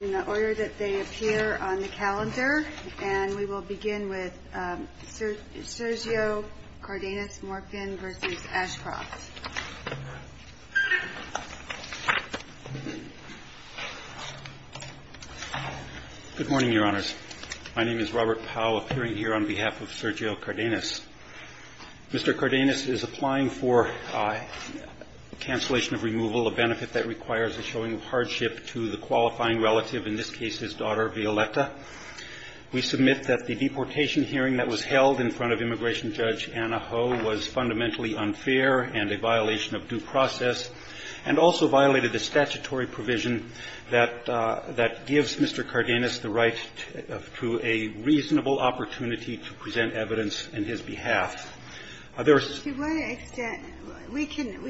in the order that they appear on the calendar, and we will begin with Sergio Cardenas-Morfin v. Ashcroft. Good morning, Your Honors. My name is Robert Powell, appearing here on behalf of Sergio Cardenas. Mr. Cardenas is applying for cancellation of removal, a benefit that requires a showing of hardship to the qualifying relative, in this case his daughter, Violeta. We submit that the deportation hearing that was held in front of Immigration Judge Anna Ho was fundamentally unfair and a violation of due process, and also violated the statutory provision that gives Mr. Cardenas the right to a reasonable opportunity to present evidence on his behalf. There is to what extent, we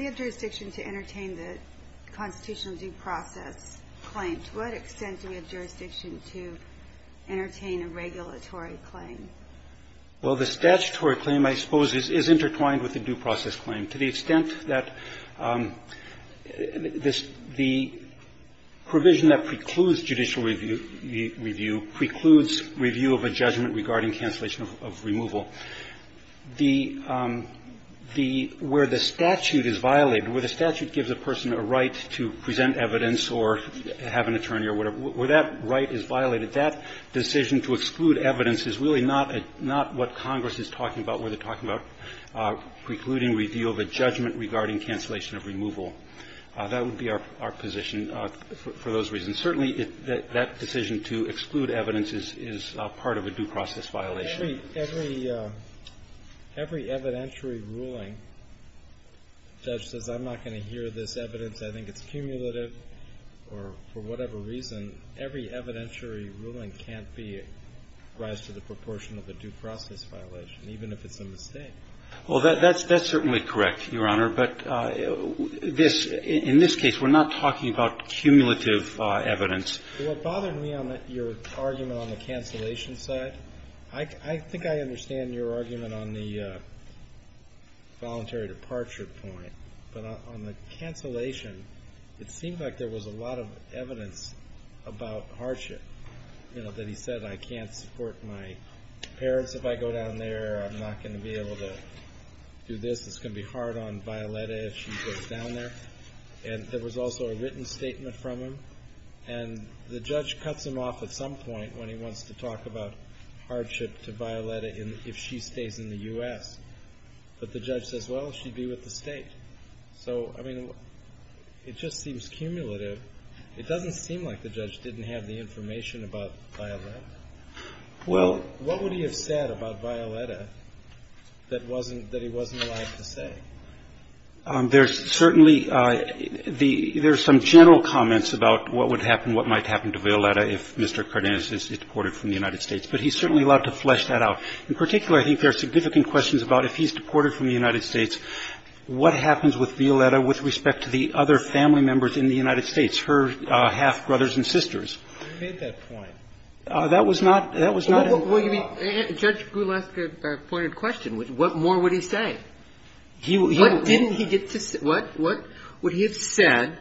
have jurisdiction to entertain the constitutional due process claim. To what extent do we have jurisdiction to entertain a regulatory claim? Well, the statutory claim, I suppose, is intertwined with the due process claim. To the extent that the provision that precludes judicial review precludes review of a judgment regarding cancellation of removal. The – the – where the statute is violated, where the statute gives a person a right to present evidence or have an attorney or whatever, where that right is violated, that decision to exclude evidence is really not a – not what Congress is talking about, where they're talking about precluding review of a judgment regarding cancellation of removal. That would be our position for those reasons. Certainly, that decision to exclude evidence is part of a due process violation. Every – every evidentiary ruling, the judge says, I'm not going to hear this evidence, I think it's cumulative, or for whatever reason, every evidentiary ruling can't be – rise to the proportion of a due process violation, even if it's a mistake. Well, that's certainly correct, Your Honor, but this – in this case, we're not talking about cumulative evidence. What bothered me on your argument on the cancellation side, I think I understand your argument on the voluntary departure point, but on the cancellation, it seemed like there was a lot of evidence about hardship, you know, that he said, I can't support my parents if I go down there, I'm not going to be able to do this, it's going to be hard on Violetta if she goes down there. And there was also a written statement from him, and the judge cuts him off at some point when he wants to talk about hardship to Violetta if she stays in the U.S., but the judge says, well, she'd be with the state. So, I mean, it just seems cumulative. It doesn't seem like the judge didn't have the information about Violetta. Well – What would he have said about Violetta that wasn't – that he wasn't allowed to say? There's certainly the – there's some general comments about what would happen, what might happen to Violetta if Mr. Cardenas is deported from the United States, but he's certainly allowed to flesh that out. In particular, I think there are significant questions about if he's deported from the United States, what happens with Violetta with respect to the other family members in the United States, her half-brothers and sisters? He made that point. That was not – that was not – Well, you mean – Judge Gould asked a pointed question. What more would he say? What didn't he get to – what would he have said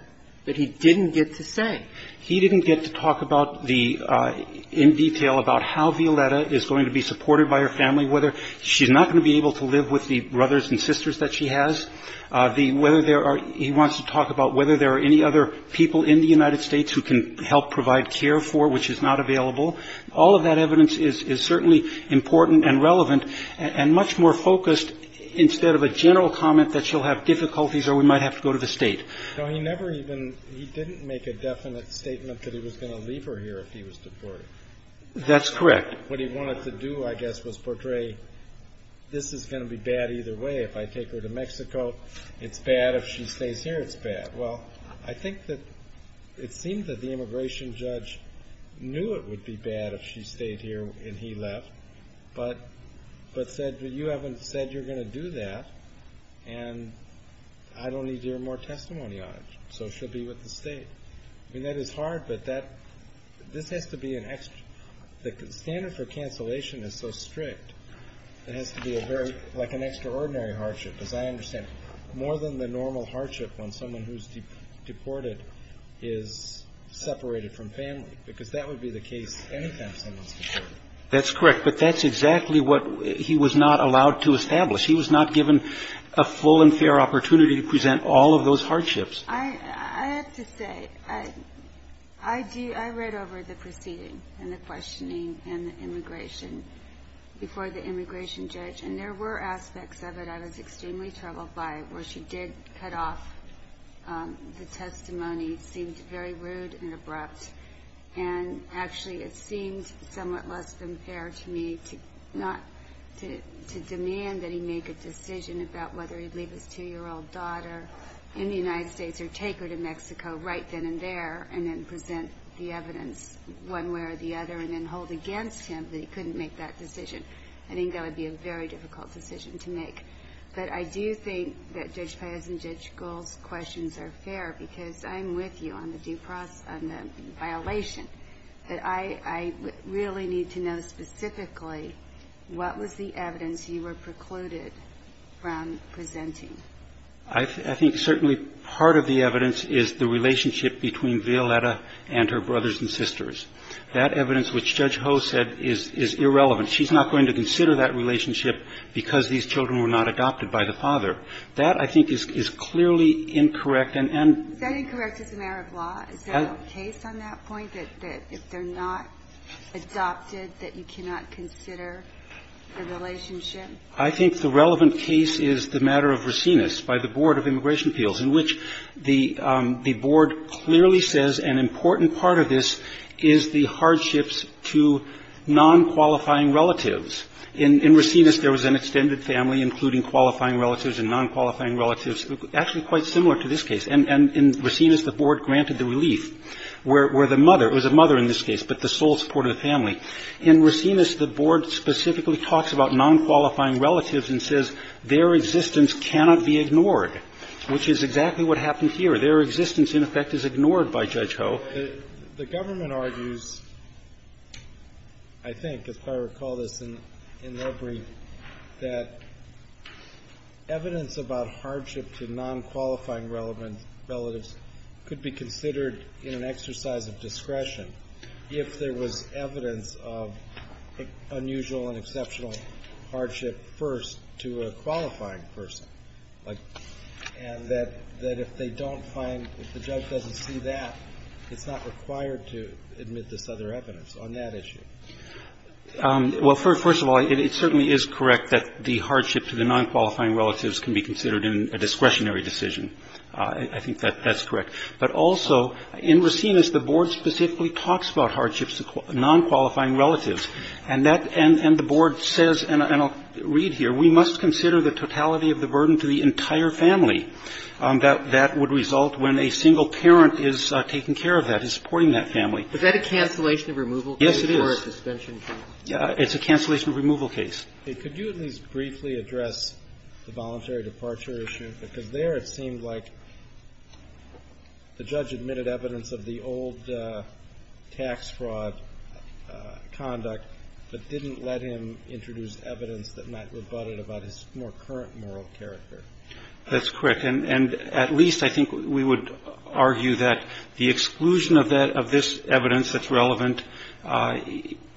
that he didn't get to say? He didn't get to talk about the – in detail about how Violetta is going to be supported by her family, whether she's not going to be able to live with the brothers and sisters that she has, the – whether there are – he wants to talk about whether there are any other people in the United States who can help provide care for her, which is not available. All of that evidence is certainly important and relevant and much more focused instead of a general comment that she'll have difficulties or we might have to go to the State. No, he never even – he didn't make a definite statement that he was going to leave her here if he was deported. That's correct. What he wanted to do, I guess, was portray this is going to be bad either way. If I take her to Mexico, it's bad. If she stays here, it's bad. Well, I think that it seems that the immigration judge knew it would be bad if she stayed here and he left, but said, well, you haven't said you're going to do that, and I don't need to hear more testimony on it. So she'll be with the State. I mean, that is hard, but that – this has to be an – the standard for cancellation is so strict. It has to be a very – like an extraordinary hardship, as I understand it, more than the normal hardship when someone who's deported is separated from family, because that would be the case any time someone's deported. That's correct, but that's exactly what he was not allowed to establish. He was not given a full and fair opportunity to present all of those hardships. I have to say, I read over the proceeding and the questioning and the immigration before the immigration judge, and there were aspects of it I was extremely troubled by, where she did cut off the testimony. It seemed very rude and abrupt, and actually, it seemed somewhat less than fair to me to not – to demand that he make a decision about whether he'd leave his 2-year-old daughter in the United States or take her to Mexico right then and there, and then present the evidence one way or the other, and then hold against him that he couldn't make that decision. I think that would be a very difficult decision to make. But I do think that Judge Payos and Judge Gould's questions are fair, because I'm with you on the due process – on the violation. But I really need to know specifically, what was the evidence you were precluded from presenting? I think certainly part of the evidence is the relationship between Violetta and her brothers and sisters. That evidence, which Judge Ho said, is irrelevant. She's not going to consider that relationship because these children were not adopted by the father. That, I think, is clearly incorrect, and – Is that incorrect as a matter of law? Is there a case on that point, that if they're not adopted, that you cannot consider the relationship? I think the relevant case is the matter of Racines by the Board of Immigration Appeals, in which the board clearly says an important part of this is the hardships to non-qualifying relatives. In Racines, there was an extended family, including qualifying relatives and non-qualifying relatives, actually quite similar to this case. And in Racines, the board granted the relief, where the mother – it was a mother in this case, but the sole supporter of the family. In Racines, the board specifically talks about non-qualifying relatives and says their existence cannot be ignored, which is exactly what happened here. Their existence, in effect, is ignored by Judge Ho. The government argues, I think, if I recall this in their brief, that evidence about hardship to non-qualifying relatives could be considered in an exercise of discretion if there was evidence of unusual and exceptional hardship first to a qualifying person, and that if they don't find – if the judge doesn't see that, it's not required to admit this other evidence on that issue. Well, first of all, it certainly is correct that the hardship to the non-qualifying relatives can be considered in a discretionary decision. I think that that's correct. But also, in Racines, the board specifically talks about hardships to non-qualifying relatives. And that – and the board says, and I'll read here, we must consider the totality of the burden to the entire family that would result when a single parent is taking care of that, is supporting that family. Is that a cancellation of removal case? Yes, it is. Or a suspension case? It's a cancellation of removal case. Could you at least briefly address the voluntary departure issue? Because there it seemed like the judge admitted evidence of the old tax fraud conduct, but didn't let him introduce evidence that might rebut it about his more current moral character. That's correct. And at least I think we would argue that the exclusion of that – of this evidence that's relevant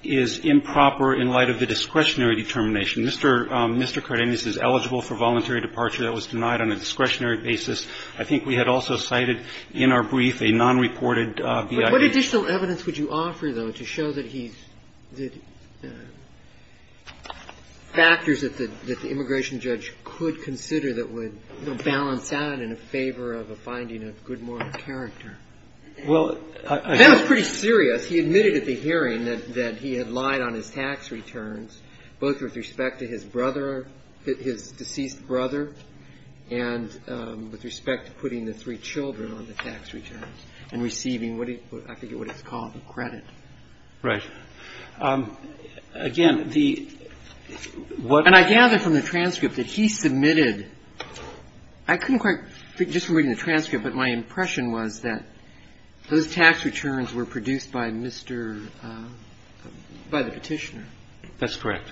is improper in light of the discretionary determination. Mr. Cardenas is eligible for voluntary departure. That was denied on a discretionary basis. I think we had also cited in our brief a non-reported BIA. What additional evidence would you offer, though, to show that he's – that factors that the immigration judge could consider that would balance out in a favor of a finding of good moral character? Well, I think – That was pretty serious. He admitted at the hearing that he had lied on his tax returns, both with respect to his brother – his deceased brother and with respect to putting the three children on the tax returns and receiving what he – I forget what he's called, credit. Right. Again, the – And I gather from the transcript that he submitted – I couldn't quite – just from reading the transcript, but my impression was that those tax returns were produced by Mr. – by the Petitioner. That's correct.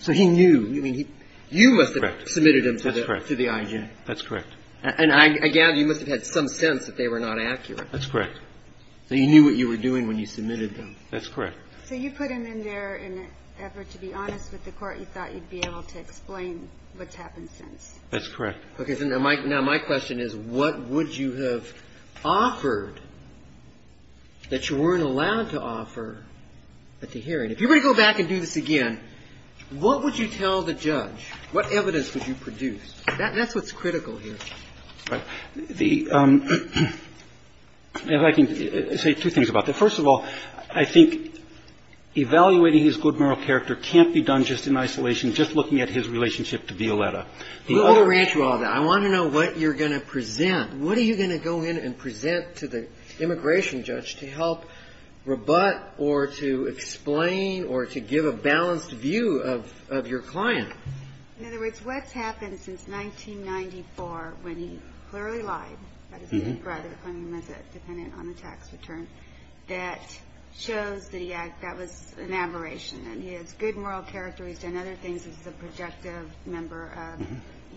So he knew. You must have submitted them to the IG. That's correct. And I gather you must have had some sense that they were not accurate. That's correct. So you knew what you were doing when you submitted them. That's correct. So you put him in there in an effort to be honest with the court. You thought you'd be able to explain what's happened since. That's correct. Okay. So now my – now my question is what would you have offered that you weren't allowed to offer at the hearing? If you were to go back and do this again, what would you tell the judge? What evidence would you produce? That's what's critical here. The – if I can say two things about that. First of all, I think evaluating his good moral character can't be done just in isolation, just looking at his relationship to Violetta. We'll rearrange all that. I want to know what you're going to present. What are you going to go in and present to the immigration judge to help rebut or to explain or to give a balanced view of your client? In other words, what's happened since 1994 when he clearly lied about his big brother claiming he was a dependent on a tax return that shows that he – that was an aberration and he has good moral character, he's done other things as a projective member of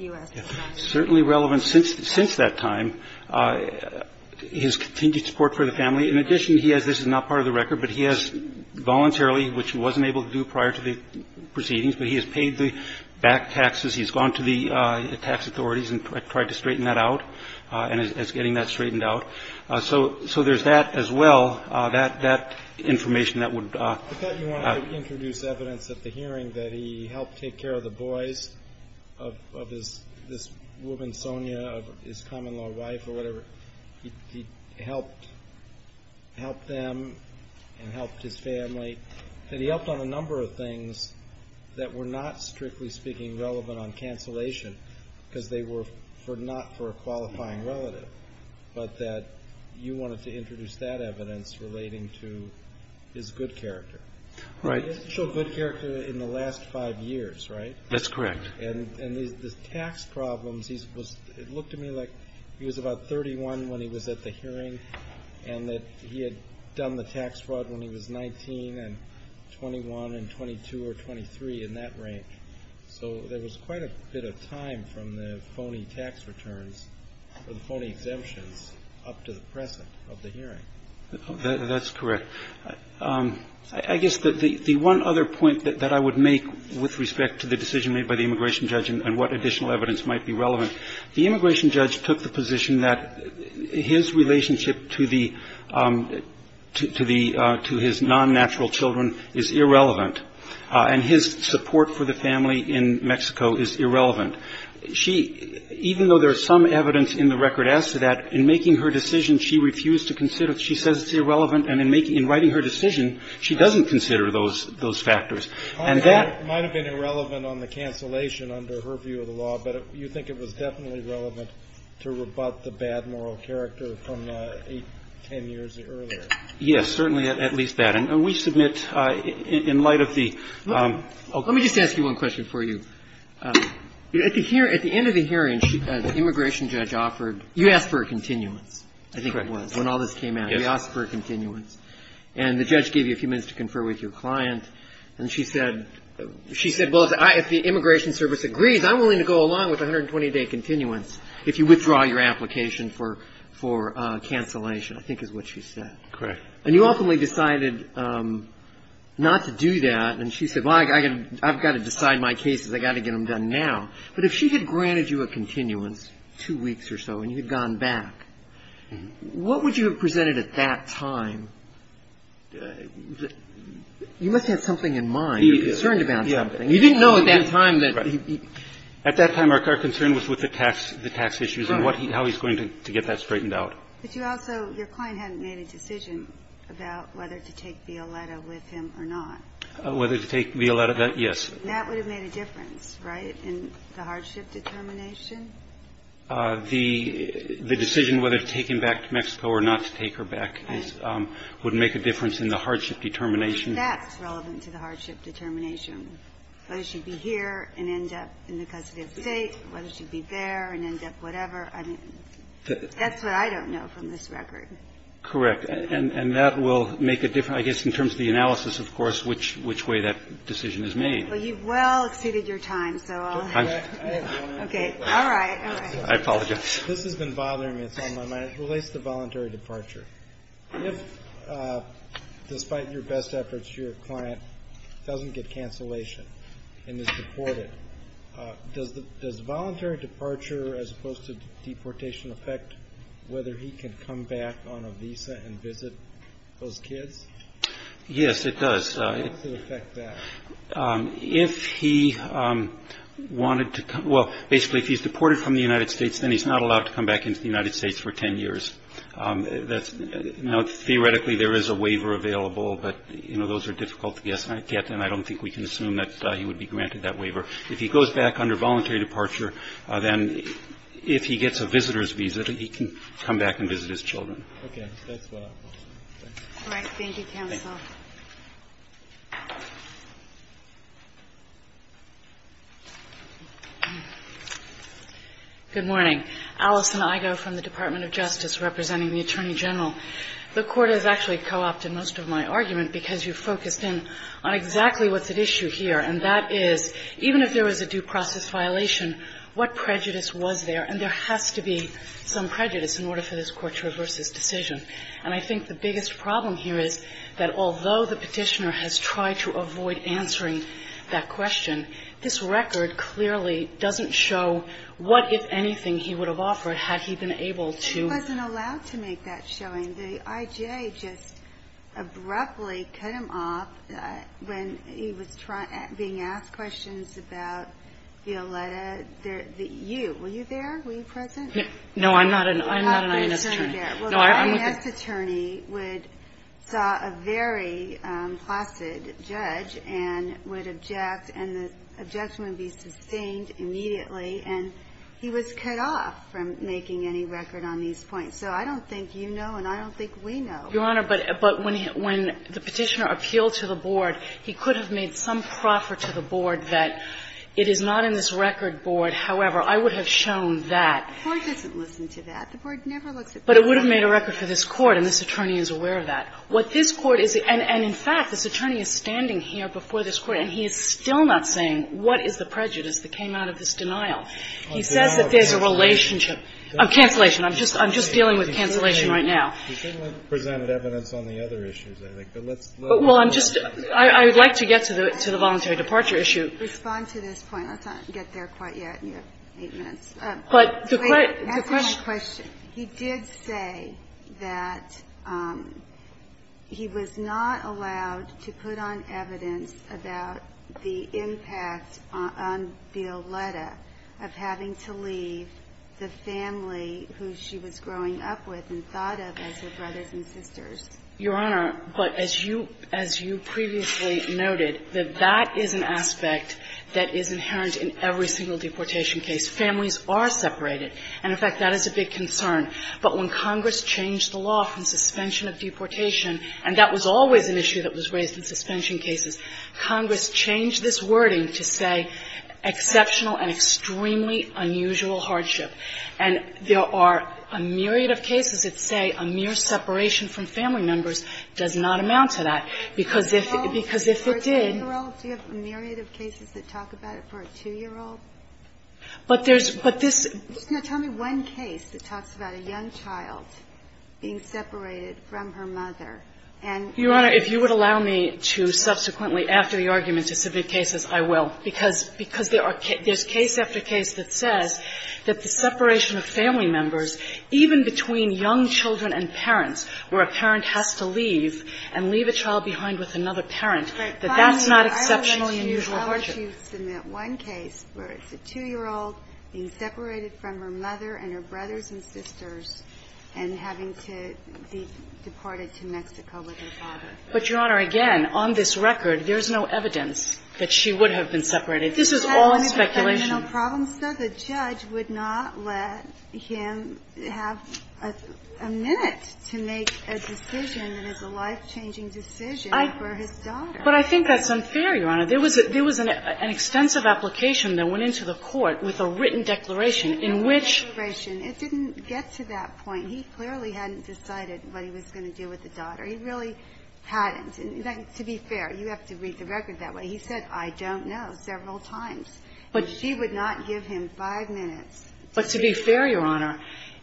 U.S. Certainly relevant since that time. His continued support for the family. In addition, he has – this is not part of the record, but he has voluntarily, which he wasn't able to do prior to the proceedings, but he has paid the back taxes. He's gone to the tax authorities and tried to straighten that out and is getting that straightened out. So there's that as well, that information that would – I thought you wanted to introduce evidence at the hearing that he helped take care of the boys of his – this woman, Sonia, his common-law wife or whatever. He helped them and helped his family. And he helped on a number of things that were not, strictly speaking, relevant on cancellation because they were not for a qualifying relative, but that you wanted to introduce that evidence relating to his good character. Right. He has shown good character in the last five years, right? That's correct. And the tax problems, it looked to me like he was about 31 when he was at the hearing and that he had done the tax fraud when he was 19 and 21 and 22 or 23 in that range. So there was quite a bit of time from the phony tax returns or the phony exemptions up to the present of the hearing. That's correct. I guess the one other point that I would make with respect to the decision made by the immigration judge and what additional evidence might be relevant, the immigration judge took the position that his relationship to the – to his non-natural children is irrelevant. And his support for the family in Mexico is irrelevant. She – even though there's some evidence in the record as to that, in making her decision, she refused to consider – she says it's irrelevant. And in making – in writing her decision, she doesn't consider those factors. And that – It might have been irrelevant on the cancellation under her view of the law, but you think it was definitely relevant to rebut the bad moral character from 8, 10 years earlier. Yes, certainly, at least that. And we submit in light of the – Let me just ask you one question for you. At the end of the hearing, the immigration judge offered – you asked for a continuance, I think it was, when all this came out. Yes. You asked for a continuance. And the judge gave you a few minutes to confer with your client. And she said – she said, well, if the Immigration Service agrees, I'm willing to go along with 120-day continuance if you withdraw your application for cancellation, I think is what she said. Correct. And you ultimately decided not to do that. And she said, well, I've got to decide my cases. I've got to get them done now. But if she had granted you a continuance, two weeks or so, and you had gone back, what would you have presented at that time? You must have something in mind. You're concerned about something. You didn't know at that time that – At that time, our concern was with the tax issues and how he's going to get that straightened out. But you also – your client hadn't made a decision about whether to take Violeta with him or not. Whether to take Violeta, yes. That would have made a difference, right, in the hardship determination? The decision whether to take him back to Mexico or not to take her back would make a difference in the hardship determination. That's relevant to the hardship determination. Whether she'd be here and end up in the custody of the state, whether she'd be there and end up whatever. I mean, that's what I don't know from this record. Correct. And that will make a difference, I guess, in terms of the analysis, of course, which way that decision is made. Well, you've well exceeded your time, so I'll – Okay. All right. I apologize. This has been bothering me. It's on my mind. It relates to voluntary departure. If, despite your best efforts, your client doesn't get cancellation and is deported, does voluntary departure as opposed to deportation affect whether he can come back on a visa and visit those kids? Yes, it does. How does it affect that? If he wanted to – well, basically, if he's deported from the United States, then he's not allowed to come back into the United States for 10 years. Now, theoretically, there is a waiver available, but, you know, those are difficult to get, and I don't think we can assume that he would be granted that waiver. If he goes back under voluntary departure, then if he gets a visitor's visa, then he can come back and visit his children. Okay. That's all I have. All right. Thank you, counsel. Thank you. Good morning. Alison Igo from the Department of Justice representing the Attorney General. The Court has actually co-opted most of my argument because you focused in on exactly what's at issue here, and that is, even if there was a due process violation, what prejudice was there? And there has to be some prejudice in order for this Court to reverse this decision. And I think the biggest problem here is that although the Petitioner has tried to avoid answering that question, this record clearly doesn't show what, if anything, he would have offered had he been able to. He wasn't allowed to make that showing. The IJA just abruptly cut him off when he was being asked questions about Violetta. You, were you there? Were you present? No, I'm not an INS attorney. Well, the INS attorney would saw a very placid judge and would object, and the objection would be sustained immediately. And he was cut off from making any record on these points. So I don't think you know and I don't think we know. Your Honor, but when the Petitioner appealed to the board, he could have made some proffer to the board that it is not in this record board, however. I would have shown that. The Court doesn't listen to that. The Board never looks at Petitioner. But it would have made a record for this Court, and this attorney is aware of that. What this Court is, and in fact, this attorney is standing here before this Court and he is still not saying what is the prejudice that came out of this denial. He says that there's a relationship. Cancellation. I'm just dealing with cancellation right now. He certainly presented evidence on the other issues, I think. But let's look at that. Well, I'm just, I would like to get to the voluntary departure issue. Respond to this point. Let's not get there quite yet. You have eight minutes. But the question. Answer my question. He did say that he was not allowed to put on evidence about the impact on Violetta of having to leave the family who she was growing up with and thought of as her brothers and sisters. Your Honor, but as you, as you previously noted, that that is an aspect that is inherent in every single deportation case. Families are separated. And, in fact, that is a big concern. But when Congress changed the law from suspension of deportation, and that was always an issue that was raised in suspension cases, Congress changed this wording to say exceptional and extremely unusual hardship. And there are a myriad of cases that say a mere separation from family members does not amount to that, because if, because if it did. Do you have a myriad of cases that talk about it for a 2-year-old? But there's, but this. Now, tell me one case that talks about a young child being separated from her mother. And. Your Honor, if you would allow me to subsequently, after your argument, to submit cases, I will. Because, because there are, there's case after case that says that the separation of family members, even between young children and parents, where a parent has to leave and leave a child behind with another parent, that that's not exceptionally unusual hardship. But if you submit one case where it's a 2-year-old being separated from her mother and her brothers and sisters, and having to be deported to Mexico with her father. But, Your Honor, again, on this record, there's no evidence that she would have been separated. This is all in speculation. The judge would not let him have a minute to make a decision that is a life-changing decision for his daughter. But I think that's unfair, Your Honor. There was, there was an extensive application that went into the court with a written declaration in which. It didn't get to that point. He clearly hadn't decided what he was going to do with the daughter. He really hadn't. And to be fair, you have to read the record that way. He said, I don't know, several times. But. She would not give him five minutes. But to be fair, Your Honor,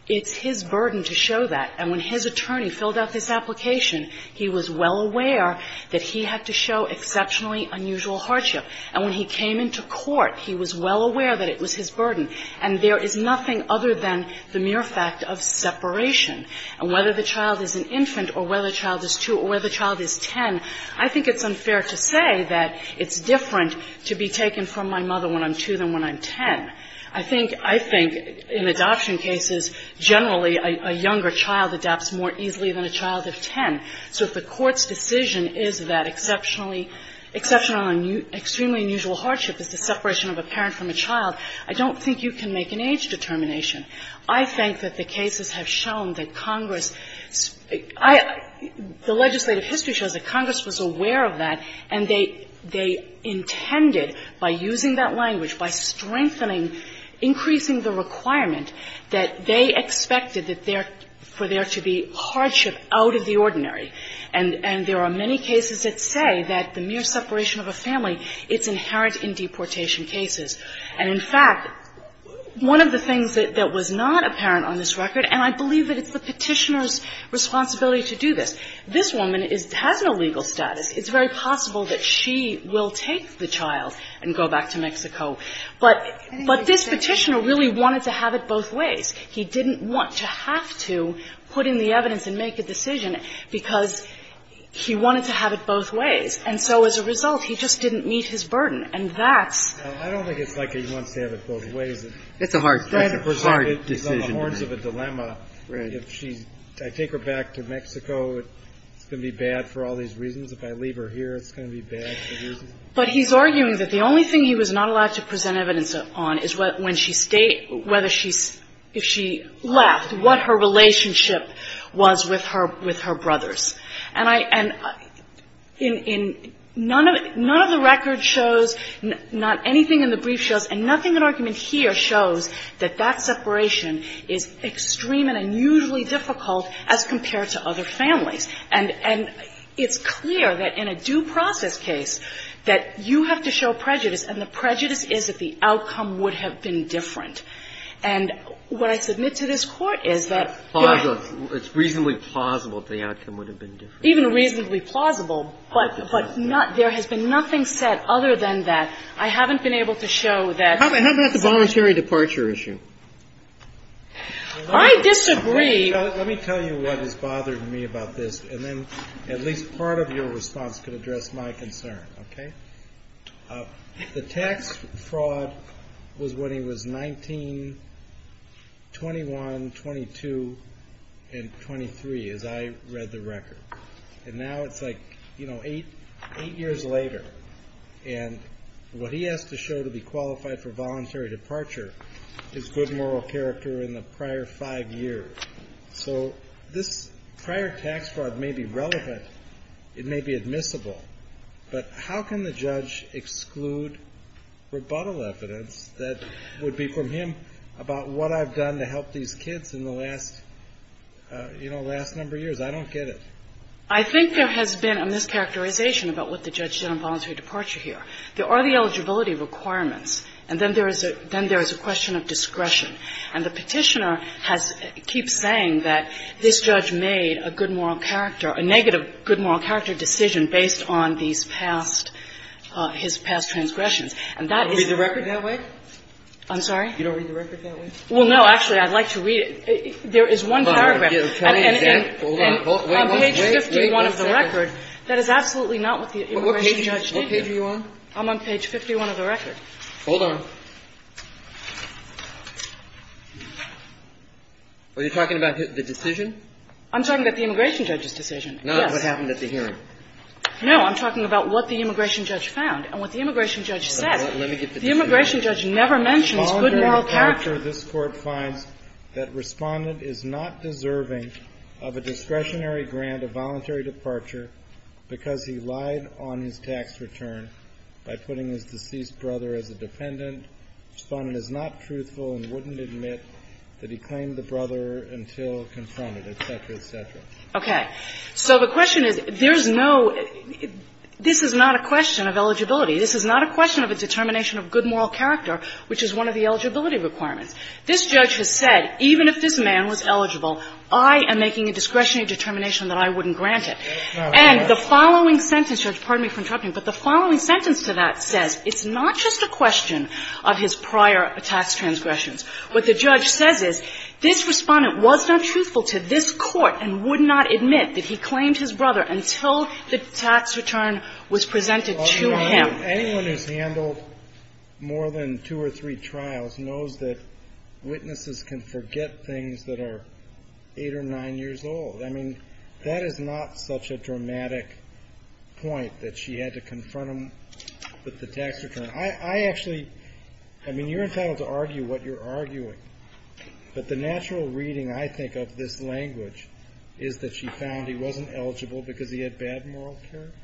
it's his burden to show that. And when his attorney filled out this application, he was well aware that he had to show exceptionally unusual hardship. And when he came into court, he was well aware that it was his burden. And there is nothing other than the mere fact of separation. And whether the child is an infant or whether the child is 2 or whether the child is 10, I think it's unfair to say that it's different to be taken from my mother when I'm 2 than when I'm 10. I think, I think in adoption cases, generally a younger child adapts more easily than a child of 10. So if the Court's decision is that exceptionally, exceptional and extremely unusual hardship is the separation of a parent from a child, I don't think you can make an age determination. I think that the cases have shown that Congress, I, the legislative history shows that Congress was aware of that, and they, they intended, by using that language, by strengthening, increasing the requirement, that they expected that there, for there to be hardship out of the ordinary. And, and there are many cases that say that the mere separation of a family, it's inherent in deportation cases. And in fact, one of the things that, that was not apparent on this record, and I believe that it's the Petitioner's responsibility to do this. This woman is, has no legal status. It's very possible that she will take the child and go back to Mexico. But, but this Petitioner really wanted to have it both ways. He didn't want to have to put in the evidence and make a decision, because he wanted to have it both ways. And so as a result, he just didn't meet his burden. And that's. Breyer. I don't think it's like he wants to have it both ways. It's a hard, it's a hard decision to make. It's on the horns of a dilemma. Right. If she's, I take her back to Mexico, it's going to be bad for all these reasons. If I leave her here, it's going to be bad for these reasons. But he's arguing that the only thing he was not allowed to present evidence on is when she stayed, whether she, if she left, what her relationship was with her, with her brothers. And I, and in, in, none of it, none of the record shows, not anything in the brief shows, and nothing in argument here shows that that separation is extreme and unusually difficult as compared to other families. And, and it's clear that in a due process case that you have to show prejudice, and the prejudice is that the outcome would have been different. And what I submit to this Court is that. It's reasonably plausible that the outcome would have been different. Even reasonably plausible, but, but not, there has been nothing said other than that. I haven't been able to show that. How about the voluntary departure issue? I disagree. Let me tell you what has bothered me about this, and then at least part of your response could address my concern, okay? The tax fraud was when he was 19, 21, 22, and 23, as I read the record. And now it's like, you know, eight, eight years later. And what he has to show to be qualified for voluntary departure is good moral character in the prior five years. So this prior tax fraud may be relevant. It may be admissible. But how can the judge exclude rebuttal evidence that would be from him about what I've done to help these kids in the last, you know, last number of years? I don't get it. I think there has been a mischaracterization about what the judge did on voluntary departure here. There are the eligibility requirements, and then there is a, then there is a question of discretion. And the petitioner has, keeps saying that this judge made a good moral character, a negative good moral character decision based on these past, his past transgressions. And that is the record that way? I'm sorry? You don't read the record that way? Well, no. Actually, I'd like to read it. There is one paragraph on page 51 of the record that is absolutely not what the immigration judge did here. What page are you on? I'm on page 51 of the record. Hold on. Are you talking about the decision? I'm talking about the immigration judge's decision. Yes. Not what happened at the hearing. No. I'm talking about what the immigration judge found and what the immigration judge said. Let me get this through. The immigration judge never mentions good moral character. Following departure, this Court finds that Respondent is not deserving of a discretionary grant of voluntary departure because he lied on his tax return by putting his deceased brother as a defendant. Respondent is not truthful and wouldn't admit that he claimed the brother until confronted, et cetera, et cetera. Okay. So the question is, there's no – this is not a question of eligibility. This is not a question of a determination of good moral character, which is one of the eligibility requirements. This judge has said, even if this man was eligible, I am making a discretionary determination that I wouldn't grant it. And the following sentence – pardon me for interrupting – but the following sentence to that says it's not just a question of his prior tax transgressions. What the judge says is this Respondent was not truthful to this Court and would not admit that he claimed his brother until the tax return was presented to him. Anyone who's handled more than two or three trials knows that witnesses can forget things that are eight or nine years old. I mean, that is not such a dramatic point that she had to confront him with the tax return. I actually – I mean, you're entitled to argue what you're arguing, but the natural reading, I think, of this language is that she found he wasn't eligible because he had bad moral character.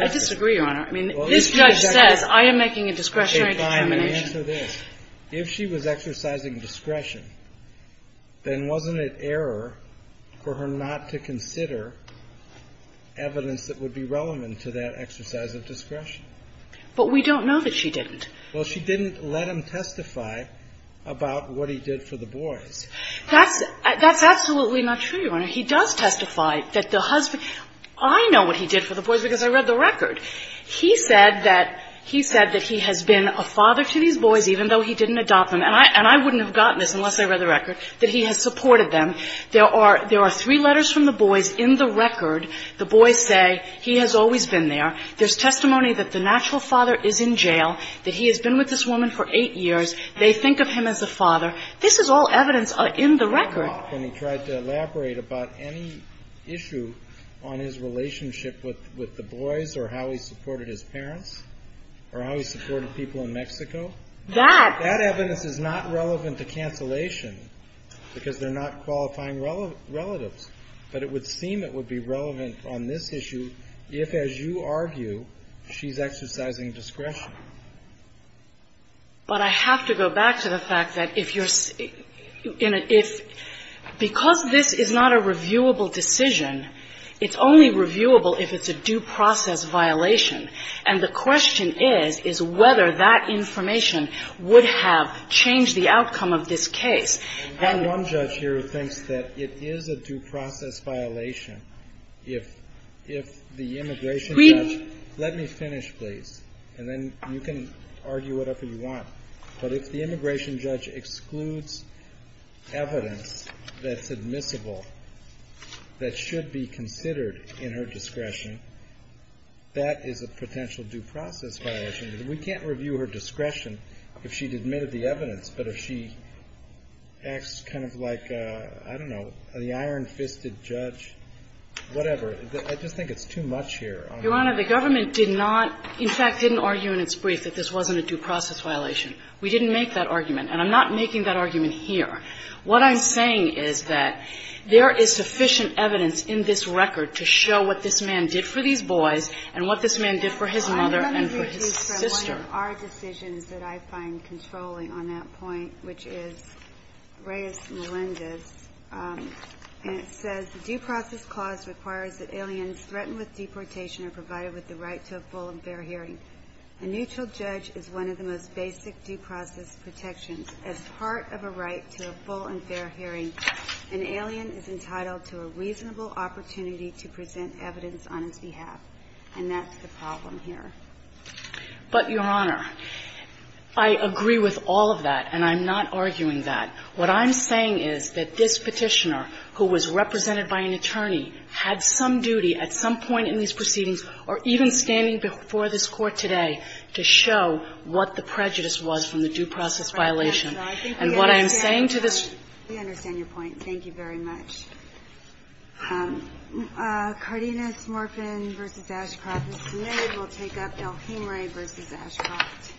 I disagree, Your Honor. I mean, this judge says, I am making a discretionary determination. Okay, fine. Let me answer this. If she was exercising discretion, then wasn't it error for her not to consider evidence that would be relevant to that exercise of discretion? But we don't know that she didn't. Well, she didn't let him testify about what he did for the boys. That's – that's absolutely not true, Your Honor. He does testify that the husband – I know what he did for the boys because I read the record. He said that – he said that he has been a father to these boys, even though he didn't adopt them. And I – and I wouldn't have gotten this unless I read the record, that he has supported them. There are – there are three letters from the boys in the record. The boys say he has always been there. There's testimony that the natural father is in jail, that he has been with this woman for eight years. They think of him as a father. This is all evidence in the record. And he tried to elaborate about any issue on his relationship with the boys or how he supported his parents or how he supported people in Mexico. That – That evidence is not relevant to cancellation because they're not qualifying relatives. But it would seem it would be relevant on this issue if, as you argue, she's exercising discretion. But I have to go back to the fact that if you're – in a – if – because this is not a reviewable decision, it's only reviewable if it's a due process violation. And the question is, is whether that information would have changed the outcome of this case. And one judge here thinks that it is a due process violation if – if the immigration judge – You can argue whatever you want. But if the immigration judge excludes evidence that's admissible, that should be considered in her discretion, that is a potential due process violation. We can't review her discretion if she admitted the evidence. But if she acts kind of like, I don't know, the iron-fisted judge, whatever, I just think it's too much here. Your Honor, the government did not – in fact, didn't argue in its brief that this wasn't a due process violation. We didn't make that argument, and I'm not making that argument here. What I'm saying is that there is sufficient evidence in this record to show what this man did for these boys and what this man did for his mother and for his sister. I'm going to do a piece from one of our decisions that I find controlling on that point, which is Reyes-Melendez, and it says, But, Your Honor, I agree with all of that, and I'm not arguing that. What I'm saying is that this Petitioner, who was represented by an attorney, had some duty at some point in these proceedings, or even standing before this Court today, to show what the prejudice was from the due process violation. And what I'm saying to this – We understand your point. Thank you very much. Cardenas-Morfin v. Ashcroft is submitted. We will take up Elhimrae v. Ashcroft. Thank you.